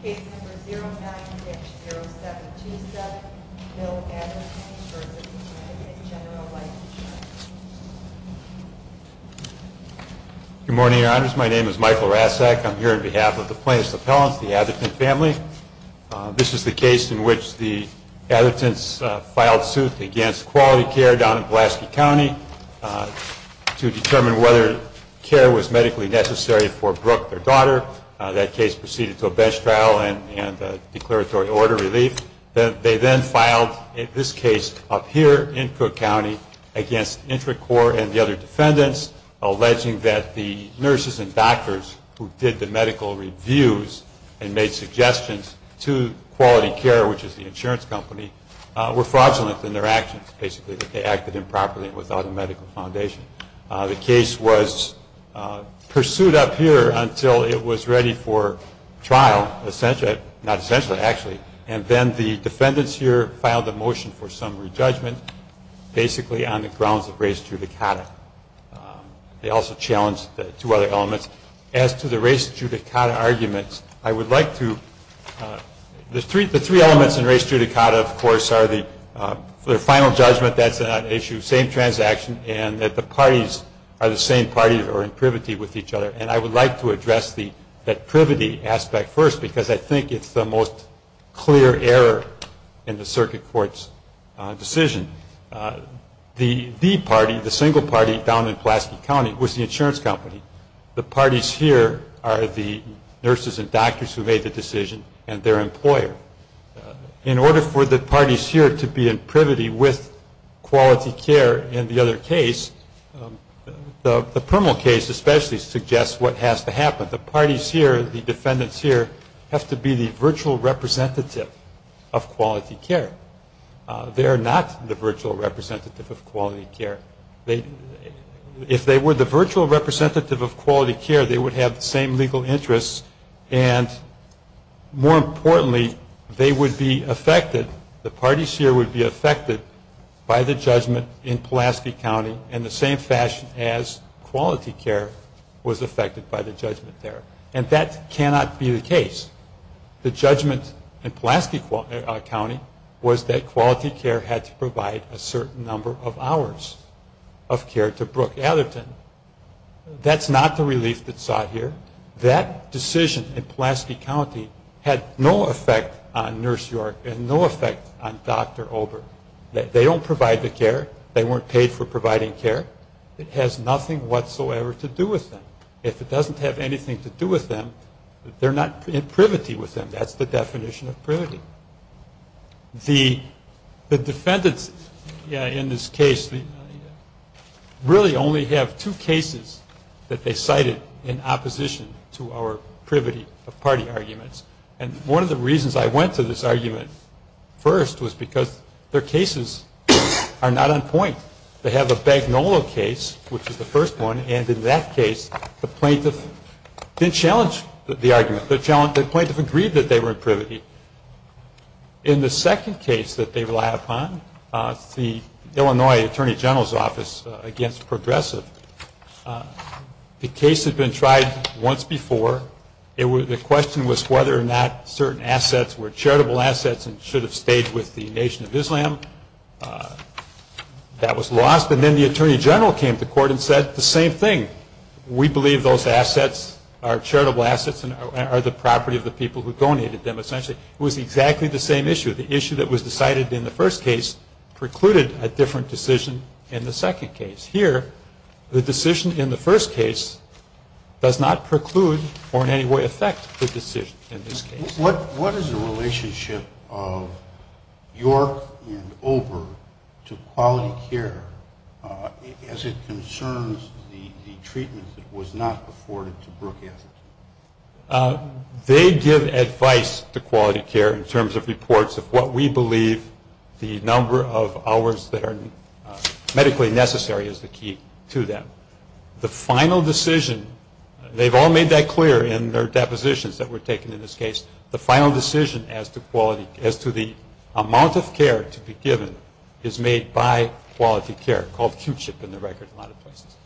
Case number 09-0727, Bill Atherton v. Connecticut General Life Insurance. Good morning, Your Honors. My name is Michael Rasek. I'm here on behalf of the Plaintiffs' Appellants, the Atherton family. This is the case in which the Athertons filed suit against Quality Care down in Pulaski County to determine whether care was medically necessary for Brooke, their daughter. That case proceeded to a bench trial and a declaratory order relief. They then filed this case up here in Cook County against Intricor and the other defendants, alleging that the nurses and doctors who did the medical reviews and made suggestions to Quality Care, which is the insurance company, were fraudulent in their actions, basically, that they acted improperly and without a medical foundation. The case was pursued up here until it was ready for trial, essentially, not essentially, actually. And then the defendants here filed a motion for summary judgment, basically, on the grounds of race judicata. They also challenged two other elements. As to the race judicata arguments, I would like to, the three elements in race judicata, of course, are the final judgment, that's not an issue, same transaction, and that the parties are the same party or in privity with each other. And I would like to address that privity aspect first because I think it's the most clear error in the circuit court's decision. The party, the single party down in Pulaski County, was the insurance company. The parties here are the nurses and doctors who made the decision and their employer. In order for the parties here to be in privity with quality care in the other case, the criminal case especially suggests what has to happen. The parties here, the defendants here, have to be the virtual representative of quality care. They are not the virtual representative of quality care. If they were the virtual representative of quality care, they would have the same legal interests and more importantly, they would be affected, the parties here would be affected, by the judgment in Pulaski County in the same fashion as quality care was affected by the judgment there. And that cannot be the case. The judgment in Pulaski County was that quality care had to provide a certain number of hours of care to Brooke Atherton. That's not the relief that's sought here. That decision in Pulaski County had no effect on Nurse York and no effect on Dr. Ober. They don't provide the care. They weren't paid for providing care. It has nothing whatsoever to do with them. If it doesn't have anything to do with them, they're not in privity with them. That's the definition of privity. The defendants in this case really only have two cases that they cited in opposition to our privity of party arguments. And one of the reasons I went to this argument first was because their cases are not on point. They have a Bagnolo case, which is the first one, and in that case, the plaintiff didn't challenge the argument. The plaintiff agreed that they were in privity. In the second case that they relied upon, the Illinois Attorney General's Office against Progressive, the case had been tried once before. The question was whether or not certain assets were charitable assets and should have stayed with the Nation of Islam. That was lost. And then the Attorney General came to court and said the same thing. We believe those assets are charitable assets and are the property of the people who donated them, essentially. It was exactly the same issue. The issue that was decided in the first case precluded a different decision in the second case. Here, the decision in the first case does not preclude or in any way affect the decision in this case. What is the relationship of York and Ober to quality care as it concerns the treatment that was not afforded to Brook Ashton? They give advice to quality care in terms of reports of what we believe the number of hours that are medically necessary is the key to them. The final decision, they've all made that clear in their depositions that were taken in this case, the final decision as to the amount of care to be given is made by quality care, called QCHIP in the record in a lot of places.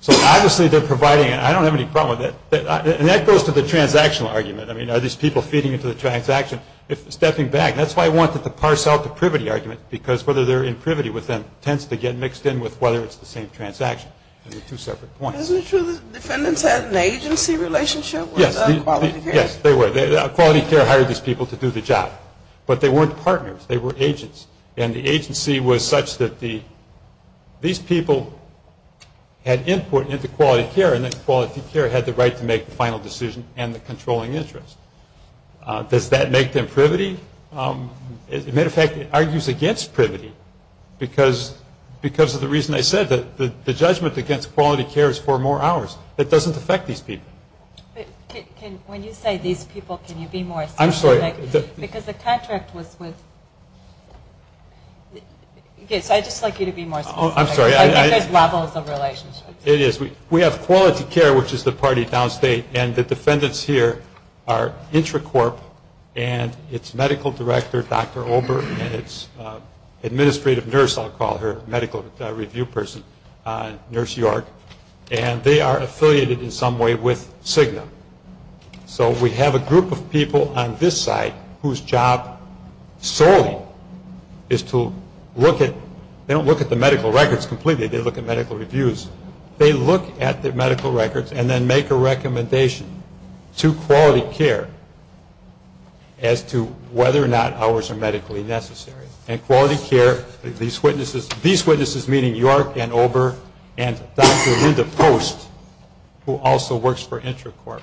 So obviously they're providing, and I don't have any problem with it, and that goes to the transactional argument. I mean, are these people feeding into the transaction? If they're stepping back, that's why I wanted to parse out the privity argument, because whether they're in privity with them tends to get mixed in with whether it's the same transaction. Those are two separate points. Isn't it true that defendants had an agency relationship with quality care? Yes, they were. Quality care hired these people to do the job, but they weren't partners. They were agents, and the agency was such that these people had input into quality care, and then quality care had the right to make the final decision and the controlling interest. Does that make them privity? As a matter of fact, it argues against privity because of the reason I said, that the judgment against quality care is for more hours. It doesn't affect these people. When you say these people, can you be more specific? I'm sorry. Because the contract was with – yes, I'd just like you to be more specific. I'm sorry. I think there's levels of relationships. It is. We have quality care, which is the party downstate, and the defendants here are Intracorp and its medical director, Dr. Ober, and its administrative nurse, I'll call her, medical review person, Nurse York, and they are affiliated in some way with Cigna. So we have a group of people on this side whose job solely is to look at – they don't look at the medical records completely. They look at medical reviews. They look at the medical records and then make a recommendation to quality care as to whether or not hours are medically necessary. And quality care, these witnesses, meaning York and Ober and Dr. Linda Post, who also works for Intracorp.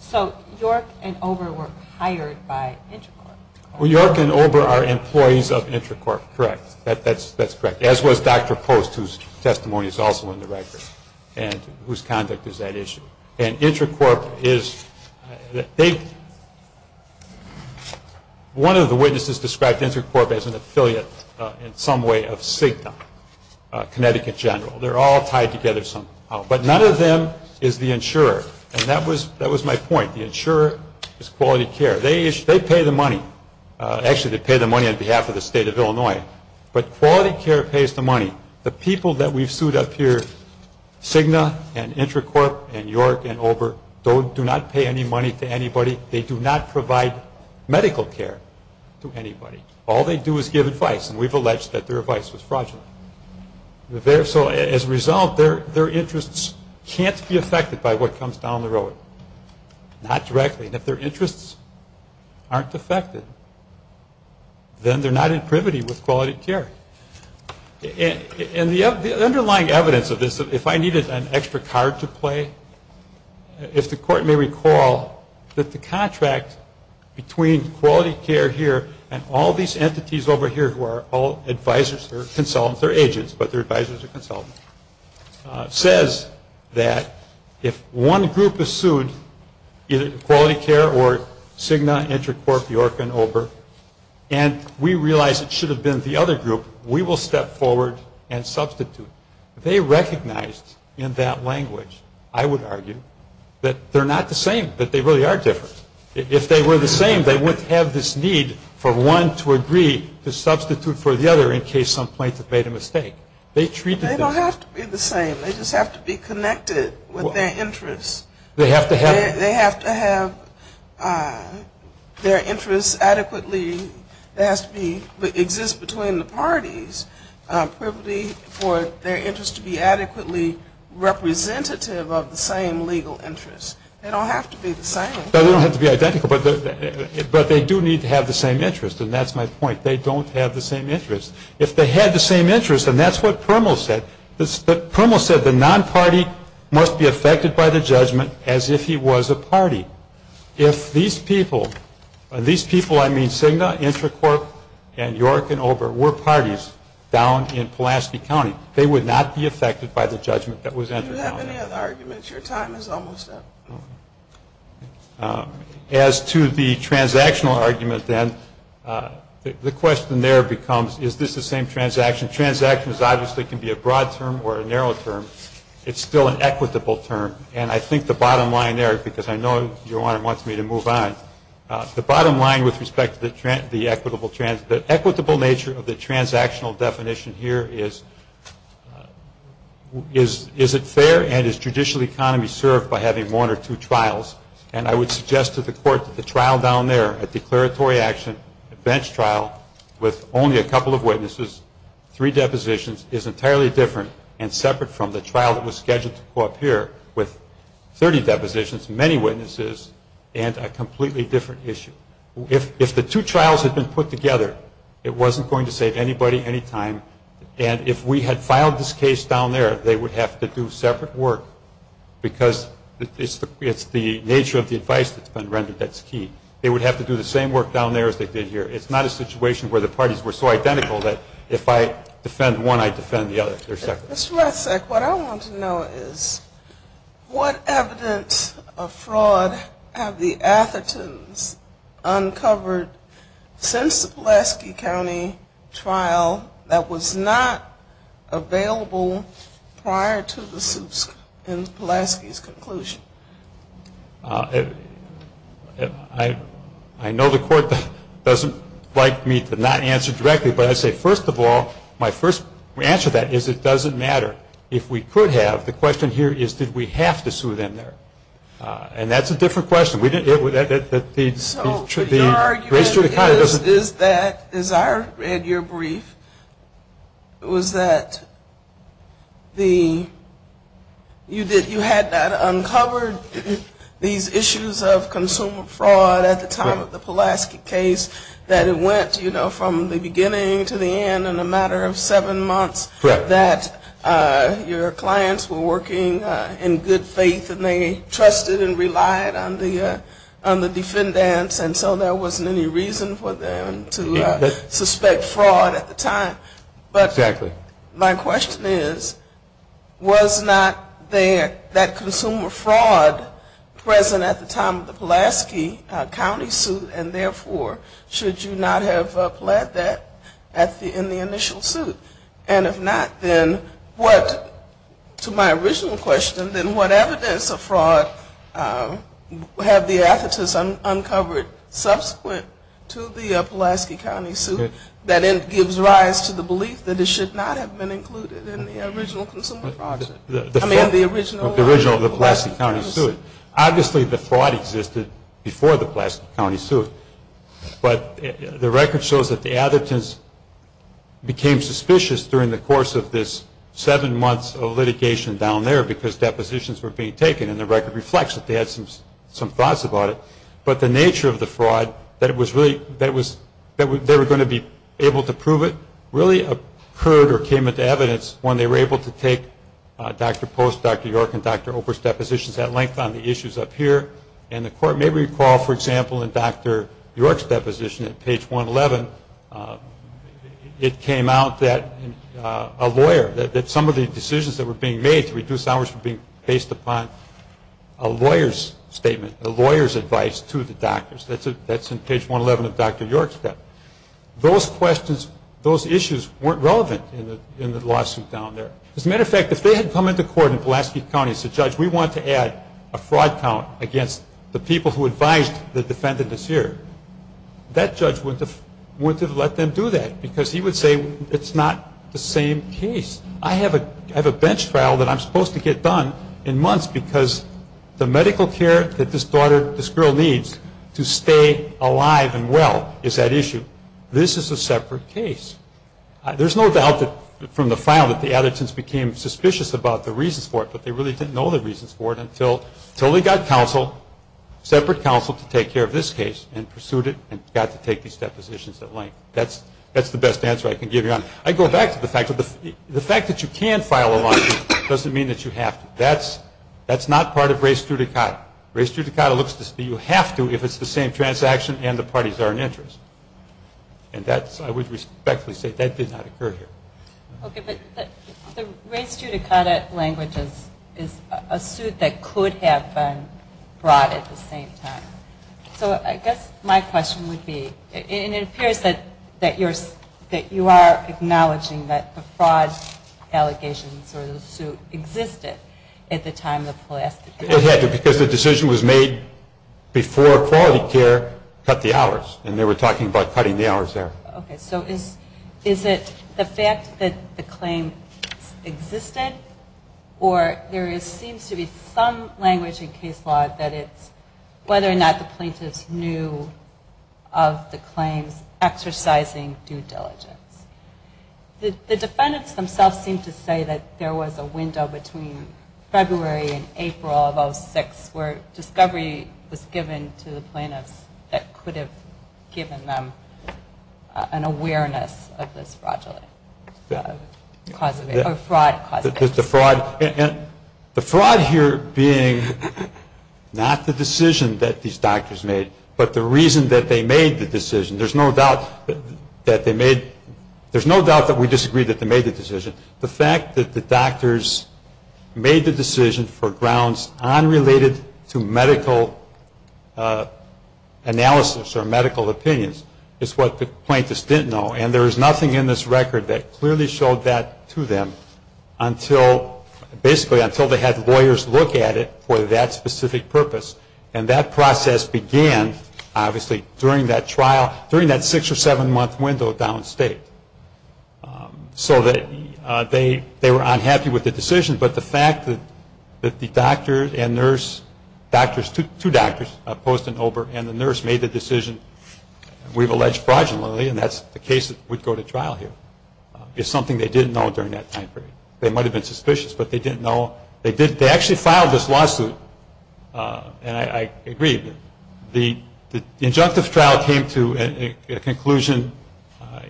So York and Ober were hired by Intracorp. Well, York and Ober are employees of Intracorp. Correct. That's correct. As was Dr. Post, whose testimony is also in the record and whose conduct is that issue. And Intracorp is – one of the witnesses described Intracorp as an affiliate in some way of Cigna, Connecticut General. They're all tied together somehow. But none of them is the insurer, and that was my point. The insurer is quality care. They pay the money. Actually, they pay the money on behalf of the state of Illinois, but quality care pays the money. The people that we've sued up here, Cigna and Intracorp and York and Ober, do not pay any money to anybody. They do not provide medical care to anybody. All they do is give advice, and we've alleged that their advice was fraudulent. So as a result, their interests can't be affected by what comes down the road. Not directly. And if their interests aren't affected, then they're not in privity with quality care. And the underlying evidence of this, if I needed an extra card to play, if the court may recall that the contract between quality care here and all these entities over here who are all advisors or consultants says that if one group is sued, either quality care or Cigna, Intracorp, York, and Ober, and we realize it should have been the other group, we will step forward and substitute. They recognized in that language, I would argue, that they're not the same, that they really are different. If they were the same, they wouldn't have this need for one to agree to substitute for the other in case some plaintiff made a mistake. They don't have to be the same. They just have to be connected with their interests. They have to have their interests adequately. It has to exist between the parties, privilege for their interests to be adequately representative of the same legal interests. They don't have to be the same. They don't have to be identical, but they do need to have the same interests, and that's my point. They don't have the same interests. If they had the same interests, and that's what Permal said, Permal said the non-party must be affected by the judgment as if he was a party. If these people, and by these people I mean Cigna, Intracorp, and York, and Ober, were parties down in Pulaski County, they would not be affected by the judgment that was entered down there. Do you have any other arguments? Your time is almost up. As to the transactional argument then, the question there becomes is this the same transaction? Transactions obviously can be a broad term or a narrow term. It's still an equitable term, and I think the bottom line there, because I know your Honor wants me to move on, the bottom line with respect to the equitable nature of the transactional definition here is, is it fair and is judicial economy served by having one or two trials? And I would suggest to the Court that the trial down there, a declaratory action, a bench trial, with only a couple of witnesses, three depositions, is entirely different and separate from the trial that was scheduled to appear with 30 depositions, many witnesses, and a completely different issue. If the two trials had been put together, it wasn't going to save anybody any time, and if we had filed this case down there, they would have to do separate work because it's the nature of the advice that's been rendered that's key. They would have to do the same work down there as they did here. It's not a situation where the parties were so identical that if I defend one, I defend the other. Ms. Rethsek, what I want to know is what evidence of fraud have the Athertons uncovered since the Pulaski County trial that was not available prior to the suits in Pulaski's conclusion? I know the Court doesn't like me to not answer directly, but I'd say first of all, my first answer to that is it doesn't matter. If we could have, the question here is did we have to sue them there? And that's a different question. The argument is that, as I read your brief, was that you had uncovered these issues of consumer fraud at the time of the Pulaski case, that it went from the beginning to the end in a matter of seven months, that your clients were working in good faith and they trusted and relied on the defendants and so there wasn't any reason for them to suspect fraud at the time. But my question is was not there that consumer fraud present at the time of the Pulaski County suit and therefore should you not have pled that in the initial suit? And if not, then what, to my original question, then what evidence of fraud have the Athertons uncovered subsequent to the Pulaski County suit that gives rise to the belief that it should not have been included in the original consumer fraud? I mean the original Pulaski County suit. Obviously the fraud existed before the Pulaski County suit, but the record shows that the Athertons became suspicious during the course of this seven months of litigation down there because depositions were being taken and the record reflects that they had some thoughts about it. But the nature of the fraud, that they were going to be able to prove it, really occurred or came into evidence when they were able to take Dr. Post, Dr. York, and Dr. Oprich's depositions at length on the issues up here. And the court may recall, for example, in Dr. York's deposition at page 111, it came out that a lawyer, that some of the decisions that were being made to reduce hours were being based upon a lawyer's statement, a lawyer's advice to the doctors. That's in page 111 of Dr. York's. Those questions, those issues weren't relevant in the lawsuit down there. As a matter of fact, if they had come into court in Pulaski County and said, Judge, we want to add a fraud count against the people who advised the defendants here, that judge wouldn't have let them do that because he would say it's not the same case. I have a bench trial that I'm supposed to get done in months because the medical care that this girl needs to stay alive and well is that issue. This is a separate case. There's no doubt from the file that the Athertons became suspicious about the reasons for it, but they really didn't know the reasons for it until they got counsel, separate counsel to take care of this case and pursued it and got to take these depositions at length. That's the best answer I can give you. I go back to the fact that you can file a lawsuit doesn't mean that you have to. That's not part of res judicata. Res judicata looks to see you have to if it's the same transaction and the parties are in interest. And I would respectfully say that did not occur here. Okay, but the res judicata language is a suit that could have been brought at the same time. So I guess my question would be, and it appears that you are acknowledging that the fraud allegations or the suit existed at the time of the last case. It had to because the decision was made before quality care cut the hours, and they were talking about cutting the hours there. Okay, so is it the fact that the claim existed or there seems to be some language in case law that it's whether or not the plaintiffs knew of the claims exercising due diligence. The defendants themselves seem to say that there was a window between February and April of 06 where discovery was given to the plaintiffs that could have given them an awareness of this fraud. The fraud here being not the decision that these doctors made, but the reason that they made the decision. There's no doubt that they made, there's no doubt that we disagree that they made the decision. The fact that the doctors made the decision for grounds unrelated to medical analysis or medical opinions is what the plaintiffs didn't know, and there is nothing in this record that clearly showed that to them until, basically until they had lawyers look at it for that specific purpose. And that process began obviously during that trial, during that six or seven month window downstate. So that they were unhappy with the decision, but the fact that the doctors and nurse, doctors, two doctors, Post and Ober, and the nurse made the decision we've alleged fraudulently, and that's the case that would go to trial here, is something they didn't know during that time period. They might have been suspicious, but they didn't know. They actually filed this lawsuit, and I agree, the injunctive trial came to a conclusion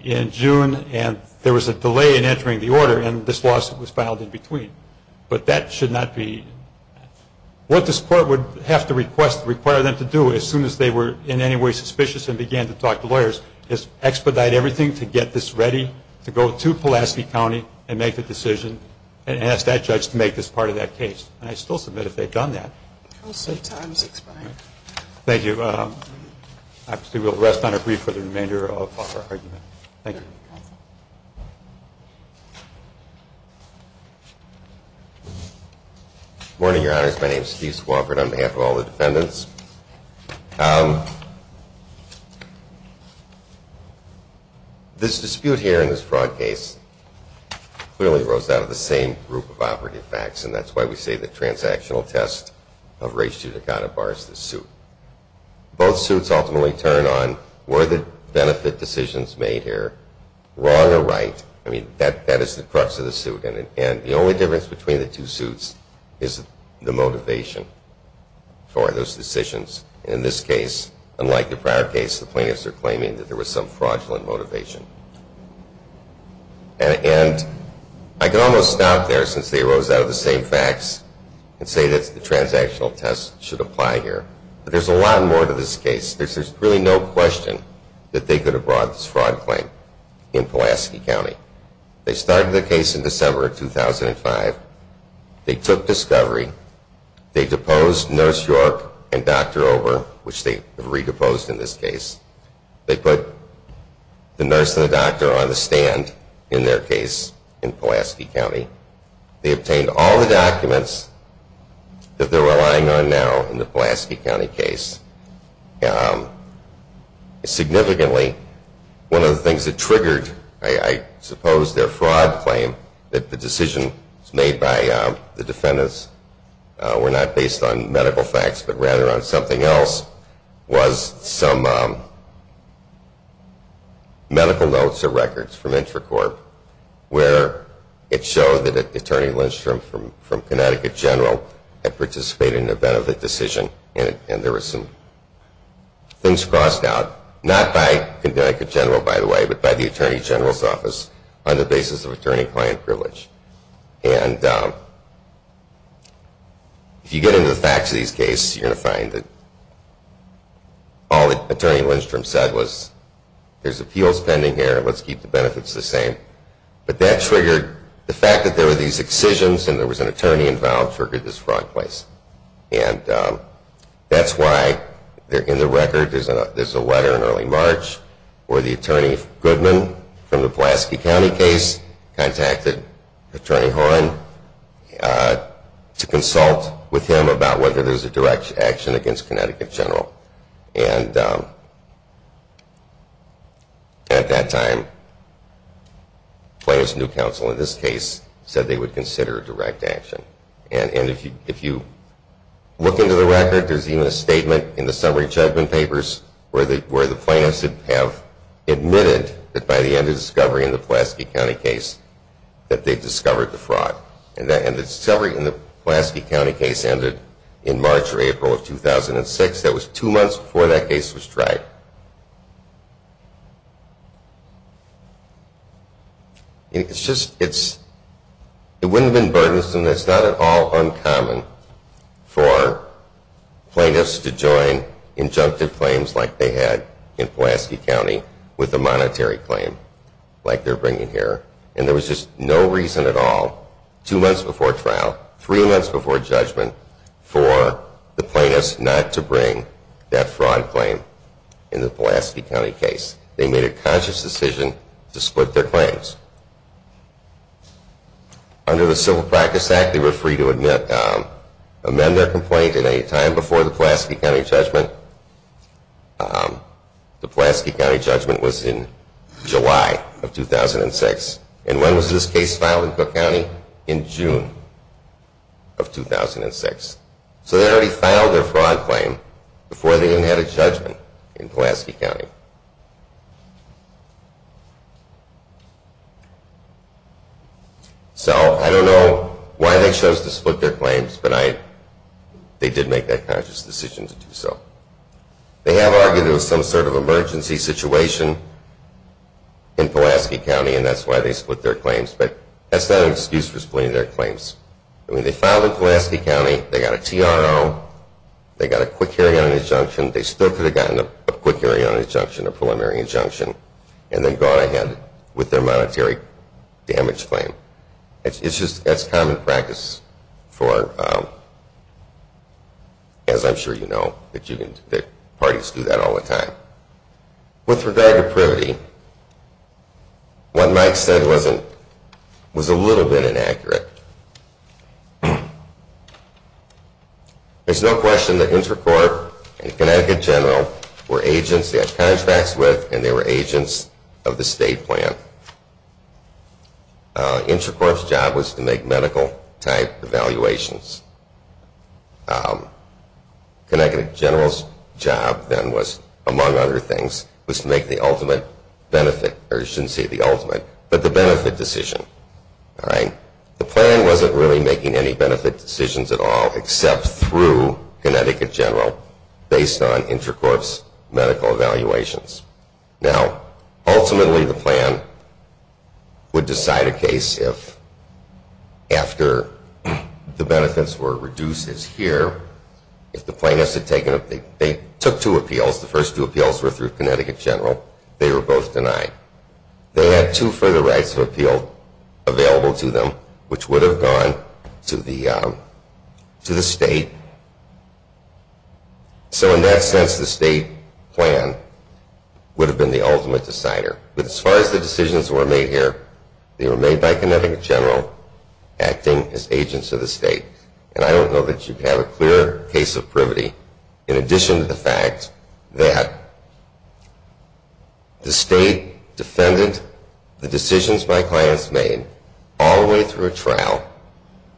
in June, and there was a delay in entering the order and this lawsuit was filed in between. But that should not be, what this court would have to request, require them to do as soon as they were in any way suspicious and began to talk to lawyers, is expedite everything to get this ready to go to Pulaski County and make the decision and ask that judge to make this part of that case. And I still submit if they've done that. I will say time is expiring. Thank you. Actually, we'll rest on a brief for the remainder of our argument. Thank you. Good morning, Your Honors. My name is Steve Swofford on behalf of all the defendants. This dispute here in this fraud case clearly arose out of the same group of operative facts, and that's why we say the transactional test of race to the counter bar is the suit. Both suits ultimately turn on were the benefit decisions made here wrong or right. I mean, that is the crux of the suit, and the only difference between the two suits is the motivation for those decisions. In this case, unlike the prior case, the plaintiffs are claiming that there was some fraudulent motivation. And I can almost stop there since they arose out of the same facts and say that the transactional test should apply here. But there's a lot more to this case. There's really no question that they could have brought this fraud claim in Pulaski County. They started the case in December of 2005. They took discovery. They deposed Nurse York and Dr. Ober, which they have redeposed in this case. They put the nurse and the doctor on the stand in their case in Pulaski County. They obtained all the documents that they're relying on now in the Pulaski County case. Significantly, one of the things that triggered, I suppose, their fraud claim, that the decisions made by the defendants were not based on medical facts but rather on something else, was some medical notes or records from Intracorp where it showed that Attorney Lindstrom from Connecticut General had participated in a benefit decision. And there were some things crossed out, not by Connecticut General, by the way, but by the Attorney General's office on the basis of attorney-client privilege. And if you get into the facts of these cases, you're going to find that all that Attorney Lindstrom said was, there's appeals pending here. Let's keep the benefits the same. But that triggered the fact that there were these excisions and there was an attorney involved triggered this fraud claim. And that's why in the record there's a letter in early March where the Attorney Goodman from the Pulaski County case contacted Attorney Horne to consult with him about whether there's a direct action against Connecticut General. And at that time, Plaintiff's New Counsel in this case said they would consider direct action. And if you look into the record, there's even a statement in the summary judgment papers where the plaintiffs have admitted that by the end of discovery in the Pulaski County case that they discovered the fraud. And the discovery in the Pulaski County case ended in March or April of 2006. That was two months before that case was tried. It's just, it wouldn't have been burdensome. And it's not at all uncommon for plaintiffs to join injunctive claims like they had in Pulaski County with a monetary claim like they're bringing here. And there was just no reason at all, two months before trial, three months before judgment, for the plaintiffs not to bring that fraud claim in the Pulaski County case. They made a conscious decision to split their claims. Under the Civil Practice Act, they were free to amend their complaint at any time before the Pulaski County judgment. The Pulaski County judgment was in July of 2006. And when was this case filed in Cook County? In June of 2006. So they already filed their fraud claim before they even had a judgment in Pulaski County. So I don't know why they chose to split their claims, but they did make that conscious decision to do so. They have argued there was some sort of emergency situation in Pulaski County and that's why they split their claims. But that's not an excuse for splitting their claims. I mean, they filed in Pulaski County. They got a TRO. They got a quick hearing on injunction. They still could have gotten a quick hearing on injunction. A preliminary injunction and then gone ahead with their monetary damage claim. That's common practice for, as I'm sure you know, that parties do that all the time. With regard to privity, what Mike said was a little bit inaccurate. There's no question that Intercorp and Connecticut General were agents they had contracts with and they were agents of the state plan. Intercorp's job was to make medical type evaluations. Connecticut General's job then was, among other things, was to make the ultimate benefit, or you shouldn't say the ultimate, but the benefit decision. The plan wasn't really making any benefit decisions at all, except through Connecticut General based on Intercorp's medical evaluations. Now, ultimately the plan would decide a case if, after the benefits were reduced as here, if the plaintiffs had taken, they took two appeals. The first two appeals were through Connecticut General. They were both denied. They had two further rights of appeal available to them, which would have gone to the state. So in that sense, the state plan would have been the ultimate decider. But as far as the decisions were made here, they were made by Connecticut General, acting as agents of the state. And I don't know that you have a clear case of privity, in addition to the fact that the state defended the decisions my clients made all the way through a trial,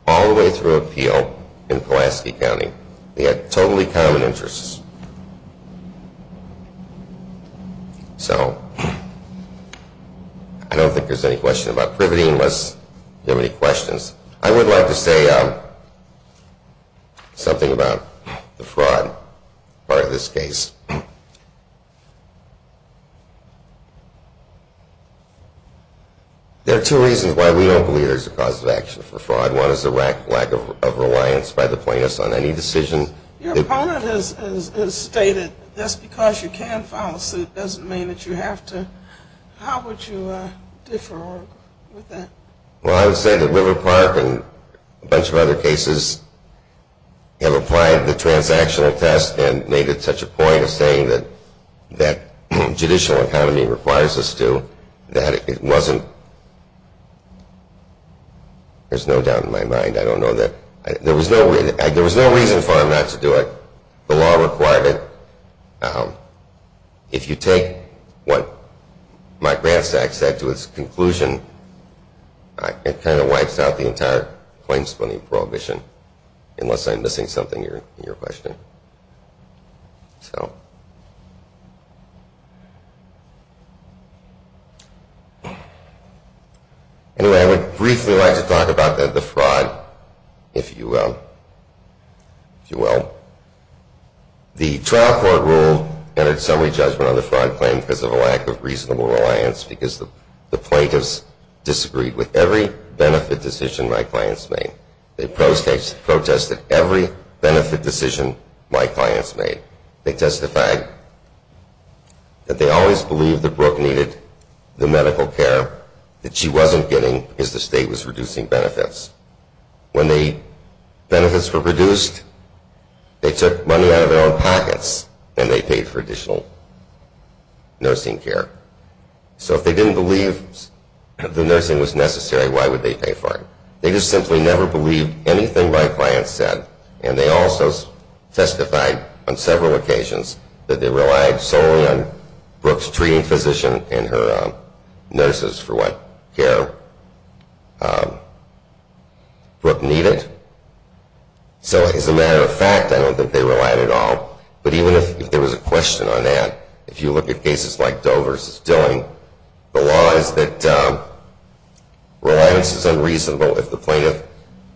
all the way through appeal in Pulaski County. They had totally common interests. So I don't think there's any question about privity unless you have any questions. I would like to say something about the fraud part of this case. There are two reasons why we don't believe there's a cause of action for fraud. One is the lack of reliance by the plaintiffs on any decision. Your opponent has stated that's because you can file a suit doesn't mean that you have to. How would you differ with that? Well, I would say that River Park and a bunch of other cases have applied the transactional test and made it such a point of saying that that judicial economy requires us to, that it wasn't – there's no doubt in my mind, I don't know that – there was no reason for them not to do it. The law required it. If you take what my grant stack said to its conclusion, it kind of wipes out the entire claims funding prohibition unless I'm missing something in your question. Anyway, I would briefly like to talk about the fraud, if you will. The trial court rule entered summary judgment on the fraud claim because of a lack of reasonable reliance because the plaintiffs disagreed with every benefit decision my clients made. They protested every benefit decision my clients made. They testified that they always believed that Brooke needed the medical care that she wasn't getting because the state was reducing benefits. When the benefits were reduced, they took money out of their own pockets and they paid for additional nursing care. So if they didn't believe the nursing was necessary, why would they pay for it? They just simply never believed anything my clients said and they also testified on several occasions that they relied solely on Brooke's treating physician and her nurses for what care Brooke needed. So as a matter of fact, I don't think they relied at all. But even if there was a question on that, if you look at cases like Doe versus Dilling, the law is that reliance is unreasonable if the plaintiff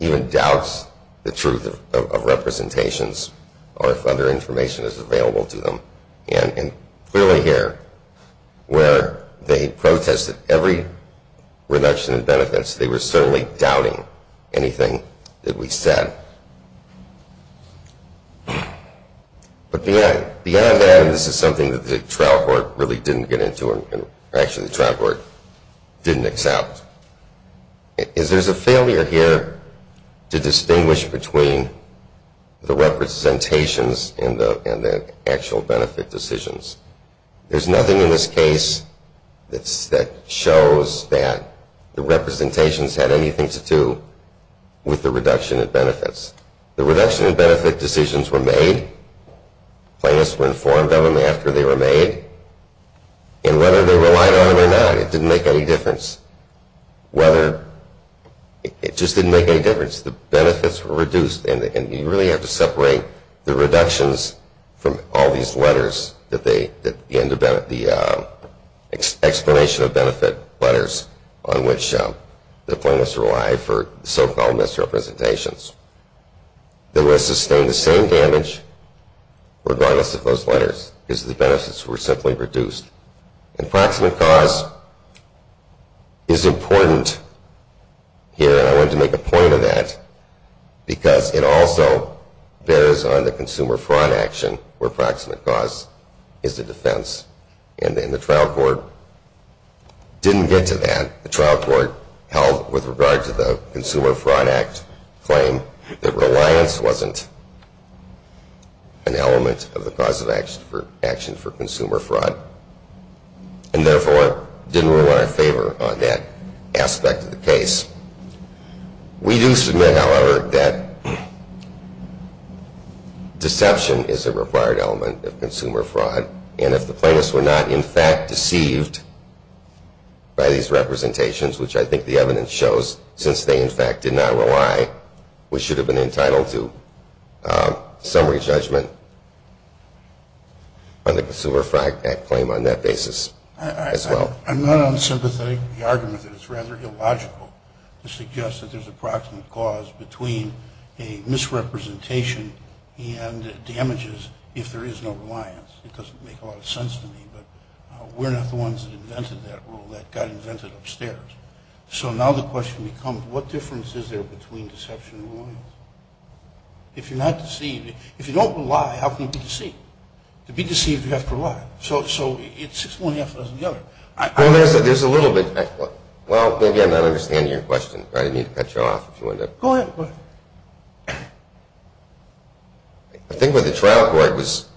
even doubts the truth of representations or if other information is available to them. And clearly here, where they protested every reduction in benefits, they were certainly doubting anything that we said. But beyond that, and this is something that the trial court really didn't get into and actually the trial court didn't accept, is there's a failure here to distinguish between the representations and the actual benefit decisions. There's nothing in this case that shows that the representations had anything to do with the reduction in benefits. The reduction in benefit decisions were made. And whether they relied on it or not, it didn't make any difference. It just didn't make any difference. The benefits were reduced and you really have to separate the reductions from all these letters that the explanation of benefit letters on which the plaintiffs relied for so-called misrepresentations. They will sustain the same damage regardless of those letters because the benefits were simply reduced. And proximate cause is important here. I wanted to make a point of that because it also bears on the consumer fraud action where proximate cause is the defense. And the trial court didn't get to that. The trial court held with regard to the Consumer Fraud Act claim that reliance wasn't an element of the cause of action for consumer fraud and therefore didn't rule in our favor on that aspect of the case. We do submit, however, that deception is a required element of consumer fraud. And if the plaintiffs were not in fact deceived by these representations, which I think the evidence shows since they in fact did not rely, we should have been entitled to summary judgment on the Consumer Fraud Act claim on that basis as well. I'm not unsympathetic to the argument that it's rather illogical to suggest that there's a proximate cause between a misrepresentation and damages if there is no reliance. It doesn't make a lot of sense to me, but we're not the ones that invented that rule. That got invented upstairs. So now the question becomes what difference is there between deception and reliance? If you're not deceived, if you don't rely, how can you be deceived? To be deceived, you have to rely. So it's one half of the other. Well, there's a little bit. Well, maybe I'm not understanding your question. I didn't mean to cut you off. Go ahead. I think what the trial court was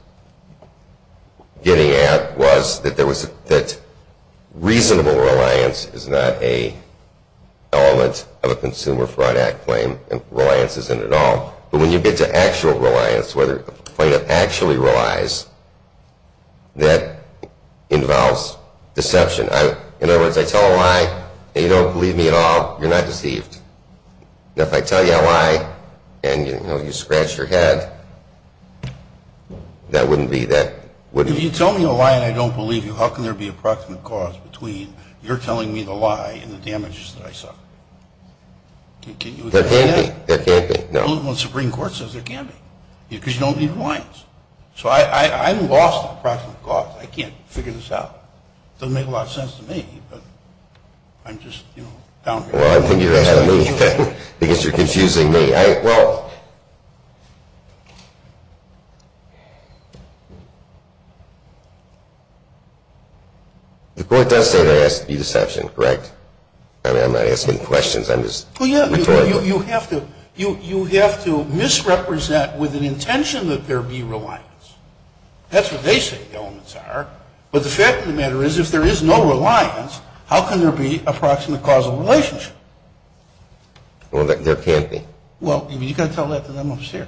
getting at was that reasonable reliance is not an element of a Consumer Fraud Act claim, and reliance isn't at all. But when you get to actual reliance, where the plaintiff actually relies, that involves deception. In other words, I tell a lie, and you don't believe me at all. You're not deceived. If I tell you a lie and you scratch your head, that wouldn't be that. If you tell me a lie and I don't believe you, how can there be a proximate cause between your telling me the lie and the damages that I suffer? There can't be. There can't be. No. Well, the Supreme Court says there can be, because you don't need reliance. So I'm lost on the proximate cause. I can't figure this out. It doesn't make a lot of sense to me, but I'm just, you know, down here. Well, I think you're ahead of me because you're confusing me. Well, the court does say there has to be deception, correct? I mean, I'm not asking questions. I'm just rhetorical. Well, yeah, you have to misrepresent with an intention that there be reliance. That's what they say the elements are. But the fact of the matter is, if there is no reliance, how can there be a proximate causal relationship? Well, there can't be. Well, you've got to tell that to them upstairs.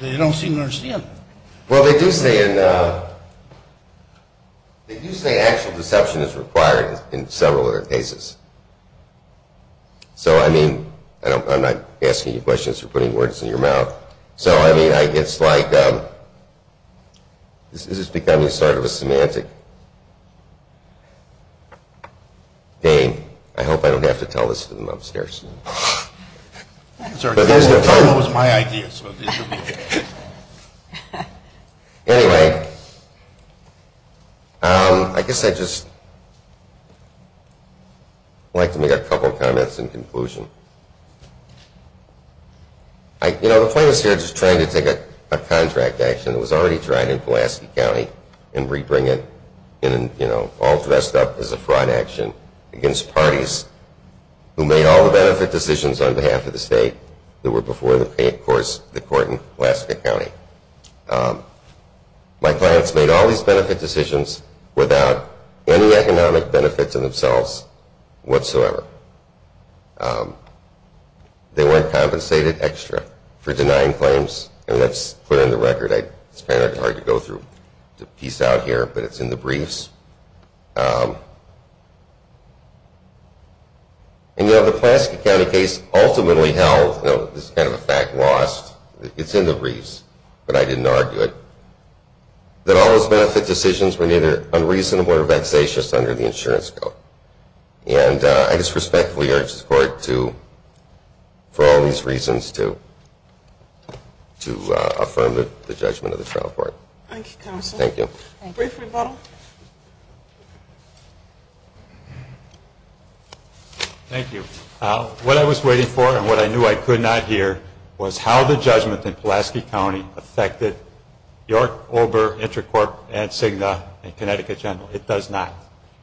They don't seem to understand. Well, they do say actual deception is required in several other cases. So, I mean, I'm not asking you questions. You're putting words in your mouth. So, I mean, it's like this is becoming sort of a semantic game. I hope I don't have to tell this to them upstairs. Anyway, I guess I'd just like to make a couple of comments in conclusion. You know, the plaintiff's here just trying to take a contract action that was already tried in Pulaski County and rebring it all dressed up as a fraud action against parties who made all the benefit decisions on behalf of the state that were before the court in Pulaski County. My clients made all these benefit decisions without any economic benefits in themselves whatsoever. They weren't compensated extra for denying claims, and that's clear in the record. It's kind of hard to go through the piece out here, but it's in the briefs. And, you know, the Pulaski County case ultimately held, this is kind of a fact lost, it's in the briefs, but I didn't argue it, that all those benefit decisions were neither unreasonable or vexatious under the insurance code. And I just respectfully urge the court to, for all these reasons, to affirm the judgment of the trial court. Thank you, counsel. Thank you. Brief rebuttal. Thank you. What I was waiting for and what I knew I could not hear was how the judgment in Pulaski County affected York, Ober, Intercorp, and Cigna, and Connecticut General. It does not.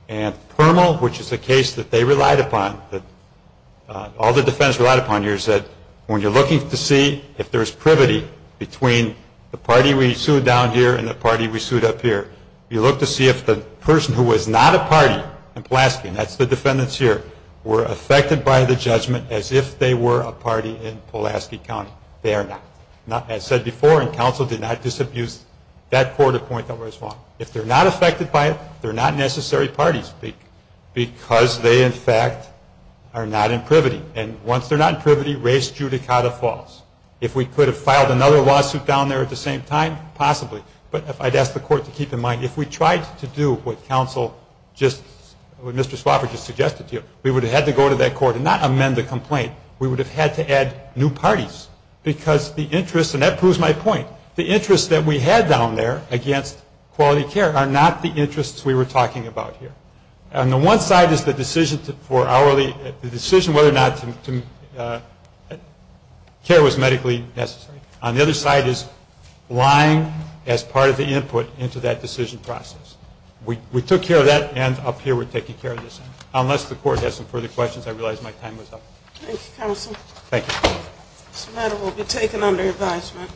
And Permal, which is a case that they relied upon, that all the defendants relied upon here, is that when you're looking to see if there's privity between the party we sued down here and the party we sued up here, you look to see if the person who was not a party in Pulaski, and that's the defendants here, were affected by the judgment as if they were a party in Pulaski County. They are not. As said before, and counsel did not disabuse that court of point that was wrong. If they're not affected by it, they're not necessary parties because they, in fact, are not in privity. And once they're not in privity, race judicata falls. If we could have filed another lawsuit down there at the same time, possibly. But I'd ask the court to keep in mind, if we tried to do what counsel just, what Mr. Swafford just suggested to you, we would have had to go to that court and not amend the complaint. We would have had to add new parties because the interest, and that proves my point, the interest that we had down there against quality care are not the interests we were talking about here. On the one side is the decision for hourly, the decision whether or not care was medically necessary. On the other side is lying as part of the input into that decision process. We took care of that, and up here we're taking care of this. Unless the court has some further questions, I realize my time is up. Thank you, counsel. Thank you. This matter will be taken under advisement.